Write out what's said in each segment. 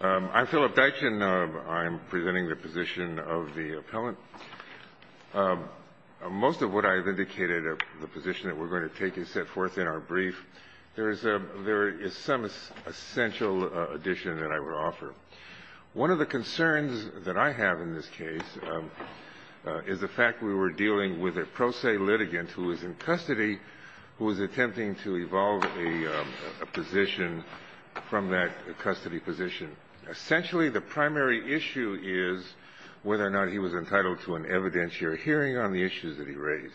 I'm Philip Deitch, and I'm presenting the position of the appellant. Most of what I've indicated of the position that we're going to take is set forth in our brief. There is some essential addition that I would offer. One of the concerns that I have in this case is the fact we were dealing with a pro se litigant who is in custody who is attempting to evolve a position from that custody position. Essentially, the primary issue is whether or not he was entitled to an evidentiary hearing on the issues that he raised.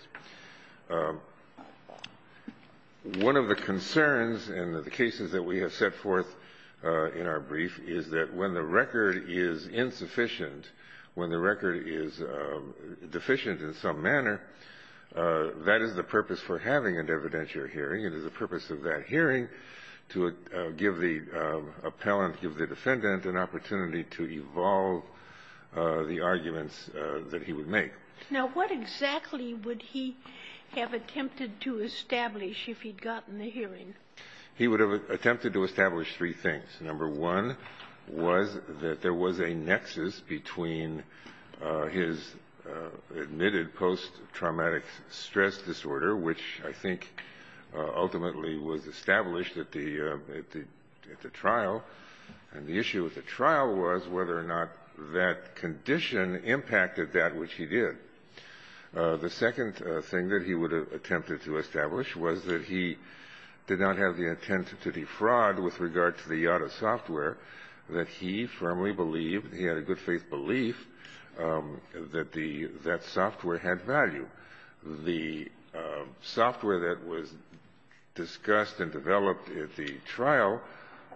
One of the concerns in the cases that we have set forth in our brief is that when the record is insufficient, when the record is deficient in some manner, that is the purpose for having an evidentiary hearing. It is the purpose of that hearing to give the appellant, give the defendant an opportunity to evolve the arguments that he would make. Sotomayor Now, what exactly would he have attempted to establish if he'd gotten the hearing? He would have attempted to establish three things. Number one was that there was a nexus between his admitted post-traumatic stress disorder, which I think ultimately was established at the trial. And the issue with the trial was whether or not that condition impacted that which he did. The second thing that he would have attempted to establish was that he did not have the intent to defraud with regard to the YADA software that he firmly believed, he had a good faith belief, that that software had value. The software that was discussed and developed at the trial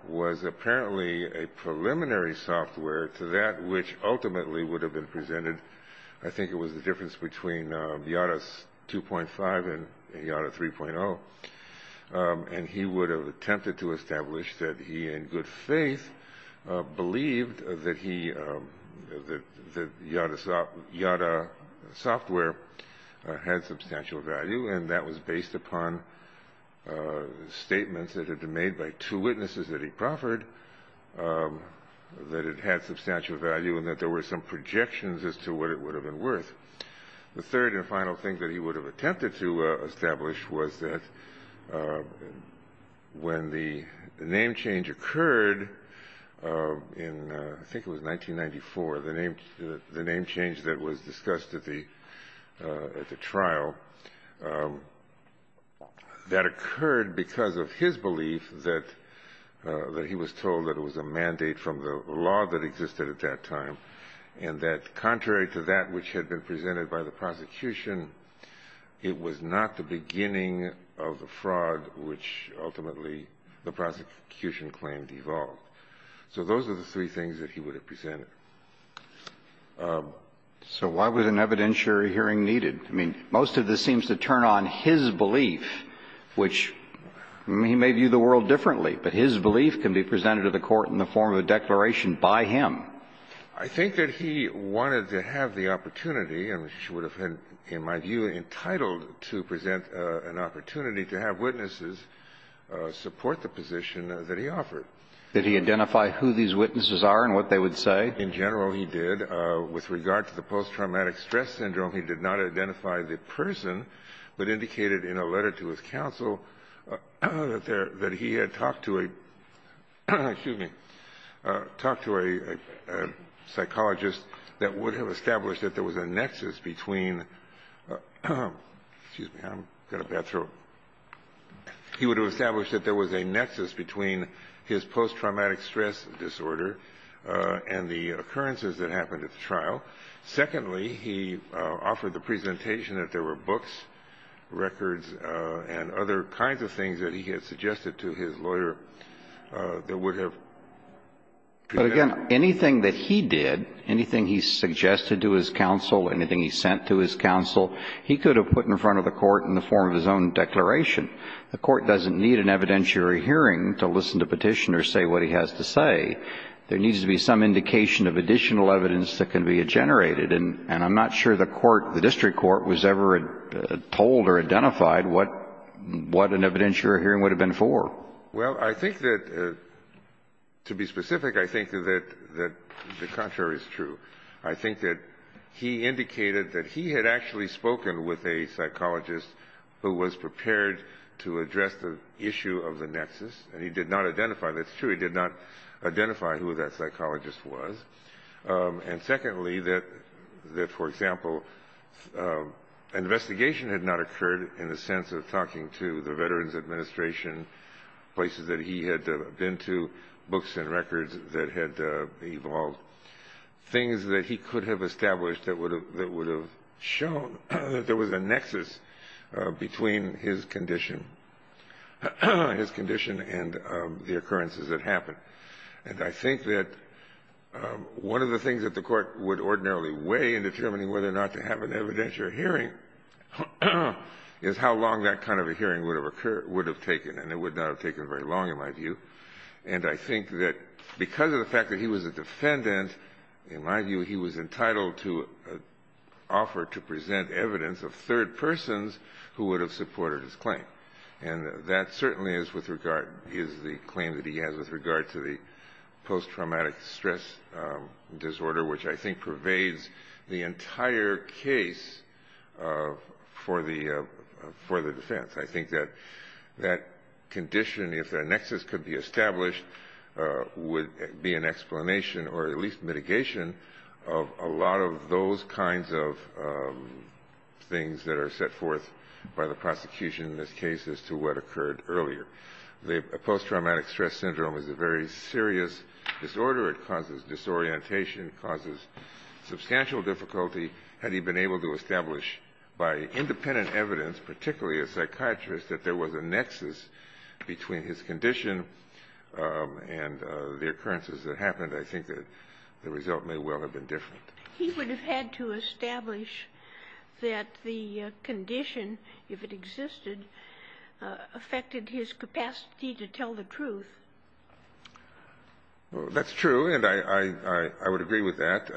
was apparently a preliminary software to that which ultimately would have been presented, I think it was the difference between YADA 2.5 and YADA 3.0. And he would have attempted to establish that he in good faith believed that YADA software had substantial value, and that was based upon statements that had been made by two witnesses that he proffered, that it had substantial value and that there were some projections as to what it would have been worth. The third and final thing that he would have attempted to establish was that when the name change occurred, in I think it was 1994, the name change that was discussed at the trial, that occurred because of his belief that he was told that it was a mandate from the law that existed at that time, and that contrary to that which had been presented by the prosecution, it was not the beginning of the fraud which ultimately the prosecution claimed evolved. So those are the three things that he would have presented. So why was an evidentiary hearing needed? I mean, most of this seems to turn on his belief, which he may view the world differently, but his belief can be presented to the Court in the form of a declaration by him. I think that he wanted to have the opportunity, and he would have been, in my view, entitled to present an opportunity to have witnesses support the position that he offered. Did he identify who these witnesses are and what they would say? In general, he did. With regard to the post-traumatic stress syndrome, he did not identify the person, but indicated in a letter to his counsel that he had talked to a psychologist that would have established that there was a nexus between his post-traumatic stress disorder and the occurrences that happened at the trial. Secondly, he offered the presentation that there were books, records, and other kinds of things that he had suggested to his lawyer that would have presented But again, anything that he did, anything he suggested to his counsel, anything he sent to his counsel, he could have put in front of the Court in the form of his own declaration. The Court doesn't need an evidentiary hearing to listen to Petitioner say what he has to say. There needs to be some indication of additional evidence that can be generated. And I'm not sure the court, the district court, was ever told or identified what an evidentiary hearing would have been for. Well, I think that, to be specific, I think that the contrary is true. I think that he indicated that he had actually spoken with a psychologist who was prepared to address the issue of the nexus, and he did not identify it. That's true. He did not identify who that psychologist was. And secondly, that, for example, investigation had not occurred in the sense of talking to the Veterans Administration, places that he had been to, books and records that had evolved, things that he could have established that would have shown that there was a nexus between his condition and the occurrences that happened. And I think that one of the things that the Court would ordinarily weigh in determining whether or not to have an evidentiary hearing is how long that kind of a hearing would have occurred or would have taken. And it would not have taken very long, in my view. And I think that because of the fact that he was a defendant, in my view, he was entitled to offer to present evidence of third persons who would have supported his claim. And that certainly is the claim that he has with regard to the post-traumatic stress disorder, which I think pervades the entire case for the defense. I think that that condition, if the nexus could be established, would be an explanation or at least mitigation of a lot of those kinds of things that are set forth by the prosecution in this case as to what occurred earlier. The post-traumatic stress syndrome is a very serious disorder. It causes disorientation. It causes substantial difficulty. Had he been able to establish by independent evidence, particularly a psychiatrist, that there was a nexus between his condition and the occurrences that happened, I think that the result may well have been different. He would have had to establish that the condition, if it existed, affected his capacity to tell the truth. That's true, and I would agree with that.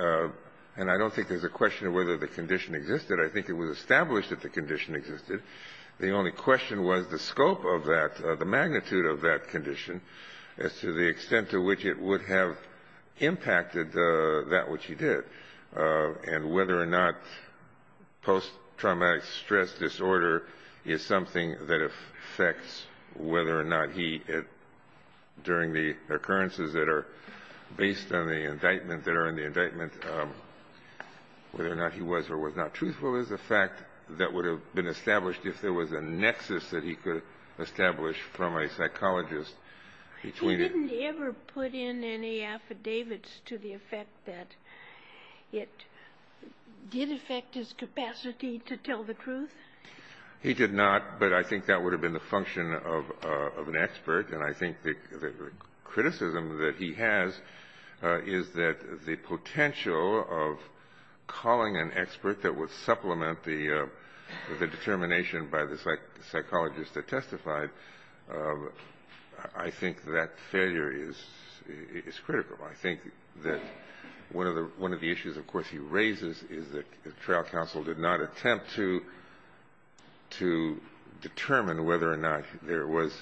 And I don't think there's a question of whether the condition existed. I think it was established that the condition existed. The only question was the scope of that, the magnitude of that condition as to the extent to which it would have impacted that which he did. And whether or not post-traumatic stress disorder is something that affects whether or not he, during the occurrences that are based on the indictment, whether or not he was or was not truthful is a fact that would have been established if there was a nexus that he could establish from a psychologist. He didn't ever put in any affidavits to the effect that it did affect his capacity to tell the truth? He did not, but I think that would have been the function of an expert. And I think the criticism that he has is that the potential of calling an expert that would supplement the determination by the psychologist that testified I think that failure is critical. I think that one of the issues, of course, he raises is that the trial counsel did not attempt to determine whether or not there was,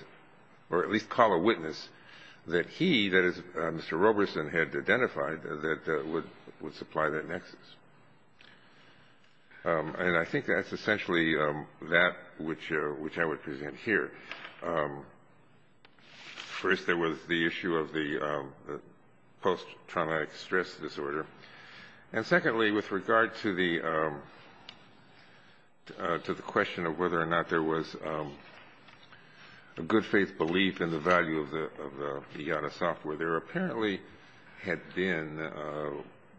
or at least call a witness, that he, that is, Mr. Roberson, had identified that would supply that nexus. And I think that's essentially that which I would present here. First, there was the issue of the post-traumatic stress disorder. And secondly, with regard to the question of whether or not there was a good faith belief in the value of the IATA software, there apparently had been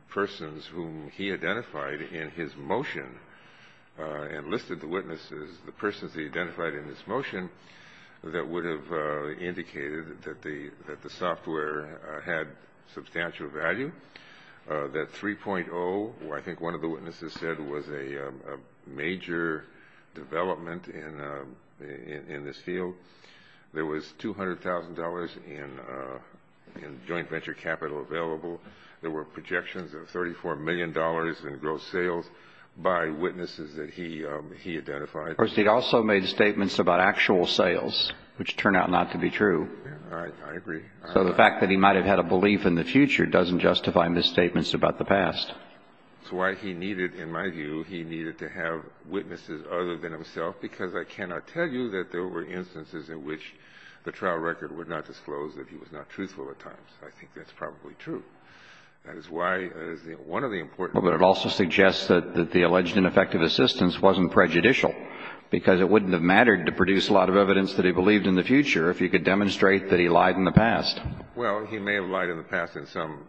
persons whom he identified in his motion and listed the witnesses, the persons he identified in his motion, that would have indicated that the software had substantial value, that 3.0, I think one of the witnesses said, was a major development in this field. There was $200,000 in joint venture capital available. There were projections of $34 million in gross sales by witnesses that he identified. First, he also made statements about actual sales, which turned out not to be true. I agree. So the fact that he might have had a belief in the future doesn't justify misstatements about the past. That's why he needed, in my view, he needed to have witnesses other than himself, because I cannot tell you that there were instances in which the trial record would not disclose that he was not truthful at times. I think that's probably true. That is why one of the important things. But it also suggests that the alleged ineffective assistance wasn't prejudicial, because it wouldn't have mattered to produce a lot of evidence that he believed in the future if he could demonstrate that he lied in the past. Well, he may have lied in the past in some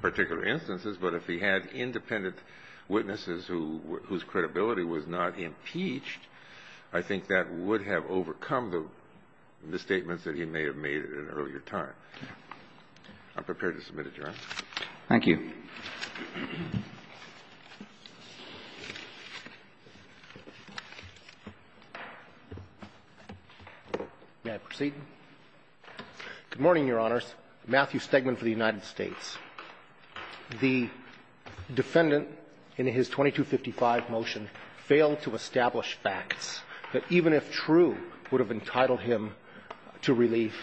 particular instances, but if he had independent witnesses whose credibility was not impeached, I think that would have overcome the misstatements that he may have made at an earlier time. I'm prepared to submit adjournment. Thank you. May I proceed? Good morning, Your Honors. Matthew Stegman for the United States. The defendant in his 2255 motion failed to establish facts that even if true would have entitled him to relief,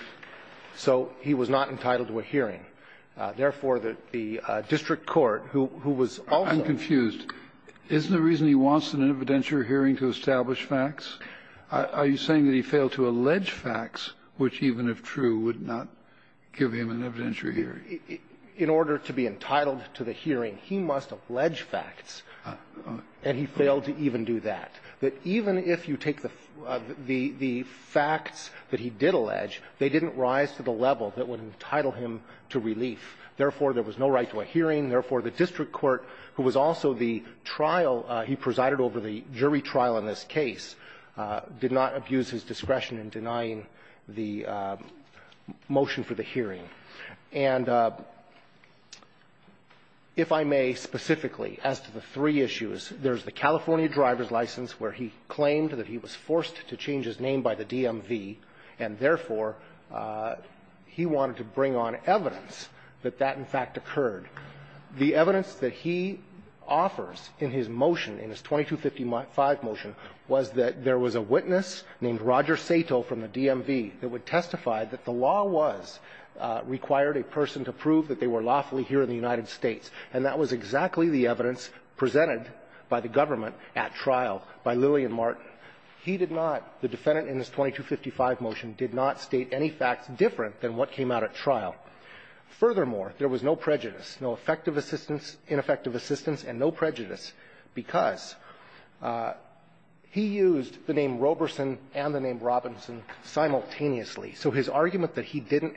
so he was not entitled to a hearing. Therefore, the district court, who was also ---- I'm confused. Isn't the reason he wants an evidentiary hearing to establish facts? Are you saying that he failed to allege facts which, even if true, would not give him an evidentiary hearing? In order to be entitled to the hearing, he must allege facts, and he failed to even do that, that even if you take the facts that he did allege, they didn't rise to the level that would entitle him to relief. Therefore, there was no right to a hearing. Therefore, the district court, who was also the trial he presided over the jury trial in this case, did not abuse his discretion in denying the motion for the hearing. And if I may specifically, as to the three issues, there's the California driver's license where he claimed that he was forced to change his name by the DMV, and therefore, he wanted to bring on evidence that that, in fact, occurred. The evidence that he offers in his motion, in his 2255 motion, was that there was a witness named Roger Sato from the DMV that would testify that the law was, required a person to prove that they were lawfully here in the United States, and that was exactly the evidence presented by the government at trial by Lillian Martin. He did not, the defendant in his 2255 motion, did not state any facts different than what came out at trial. Furthermore, there was no prejudice, no effective assistance, ineffective assistance, and no prejudice, because he used the name Roberson and the name Robinson simultaneously. So his argument that he didn't,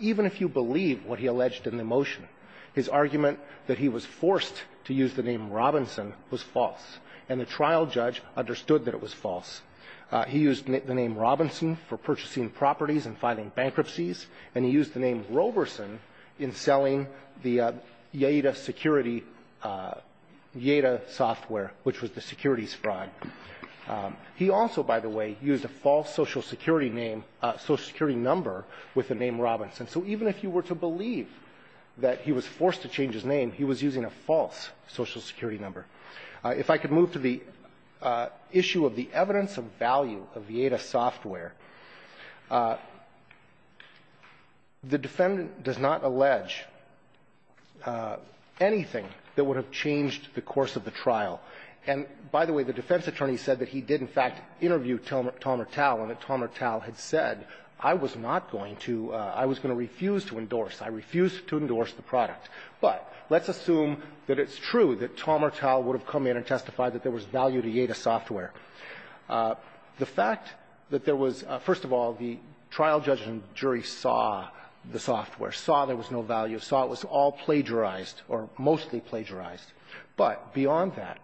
even if you believe what he alleged in the motion, his argument that he was forced to use the name Robinson was false, and the trial judge understood that it was false. He used the name Robinson for purchasing properties and filing bankruptcies, and he used the name Roberson in selling the Yeda security, Yeda software, which was the securities fraud. He also, by the way, used a false Social Security name, Social Security number with the name Robinson. So even if you were to believe that he was forced to change his name, he was using a false Social Security number. If I could move to the issue of the evidence of value of the Yeda software. The defendant does not allege anything that would have changed the course of the trial. And, by the way, the defense attorney said that he did, in fact, interview Talmertal and that Talmertal had said, I was not going to, I was going to refuse to endorse, I refused to endorse the product. But let's assume that it's true that Talmertal would have come in and testified that there was value to Yeda software. The fact that there was, first of all, the trial judge and jury saw the software, saw there was no value, saw it was all plagiarized or mostly plagiarized. But beyond that,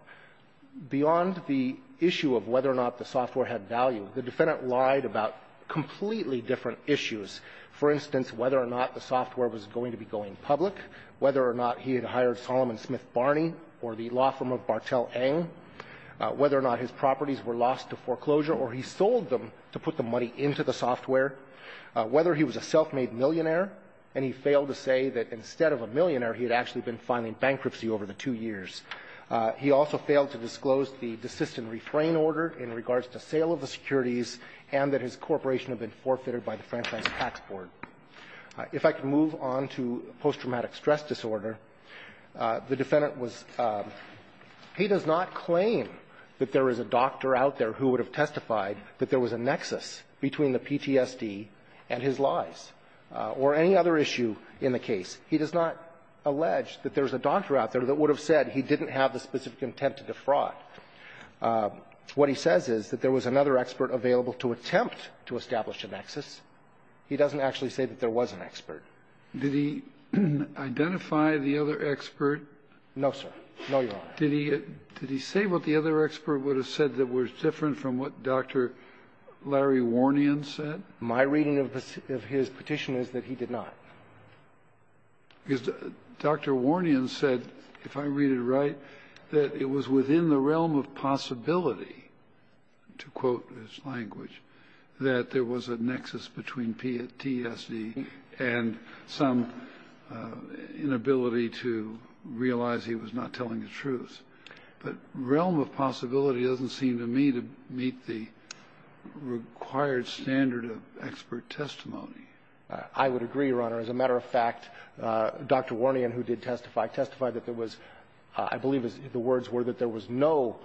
beyond the issue of whether or not the software had value, the defendant lied about completely different issues, for instance, whether or not the software was going to be going public, whether or not he had hired Solomon Smith Barney or the law firm of Bartel Eng, whether or not his properties were lost to foreclosure or he sold them to put the money into the software, whether he was a self-made millionaire and he failed to say that instead of a millionaire, he had actually been filing bankruptcy over the two years. He also failed to disclose the desist and refrain order in regards to sale of the securities and that his corporation had been forfeited by the franchise tax board. If I could move on to post-traumatic stress disorder, the defendant was he does not claim that there is a doctor out there who would have testified that there was a nexus between the PTSD and his lies or any other issue in the case. He does not allege that there is a doctor out there that would have said he didn't have the specific intent to defraud. What he says is that there was another expert available to attempt to establish a nexus. He doesn't actually say that there was an expert. Did he identify the other expert? No, sir. No, Your Honor. Did he say what the other expert would have said that was different from what Dr. Larry Warnian said? My reading of his petition is that he did not. Because Dr. Warnian said, if I read it right, that it was within the realm of possibility to quote his language, that there was a nexus between PTSD and some inability to realize he was not telling the truth. But realm of possibility doesn't seem to me to meet the required standard of expert testimony. I would agree, Your Honor. As a matter of fact, Dr. Warnian, who did testify, testified that there was, I believe the words were that there was no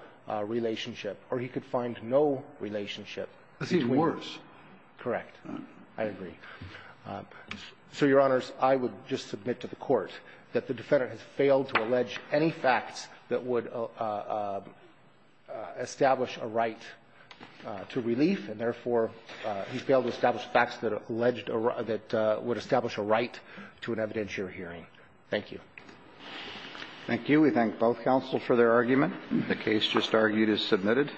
relationship, or he could find no relationship between. I see the words. Correct. I agree. So, Your Honors, I would just submit to the Court that the Defendant has failed to allege any facts that would establish a right to relief, and therefore, he failed to establish facts that alleged or that would establish a right to an evidentiary hearing. Thank you. Thank you. We thank both counsels for their argument. The case just argued is submitted.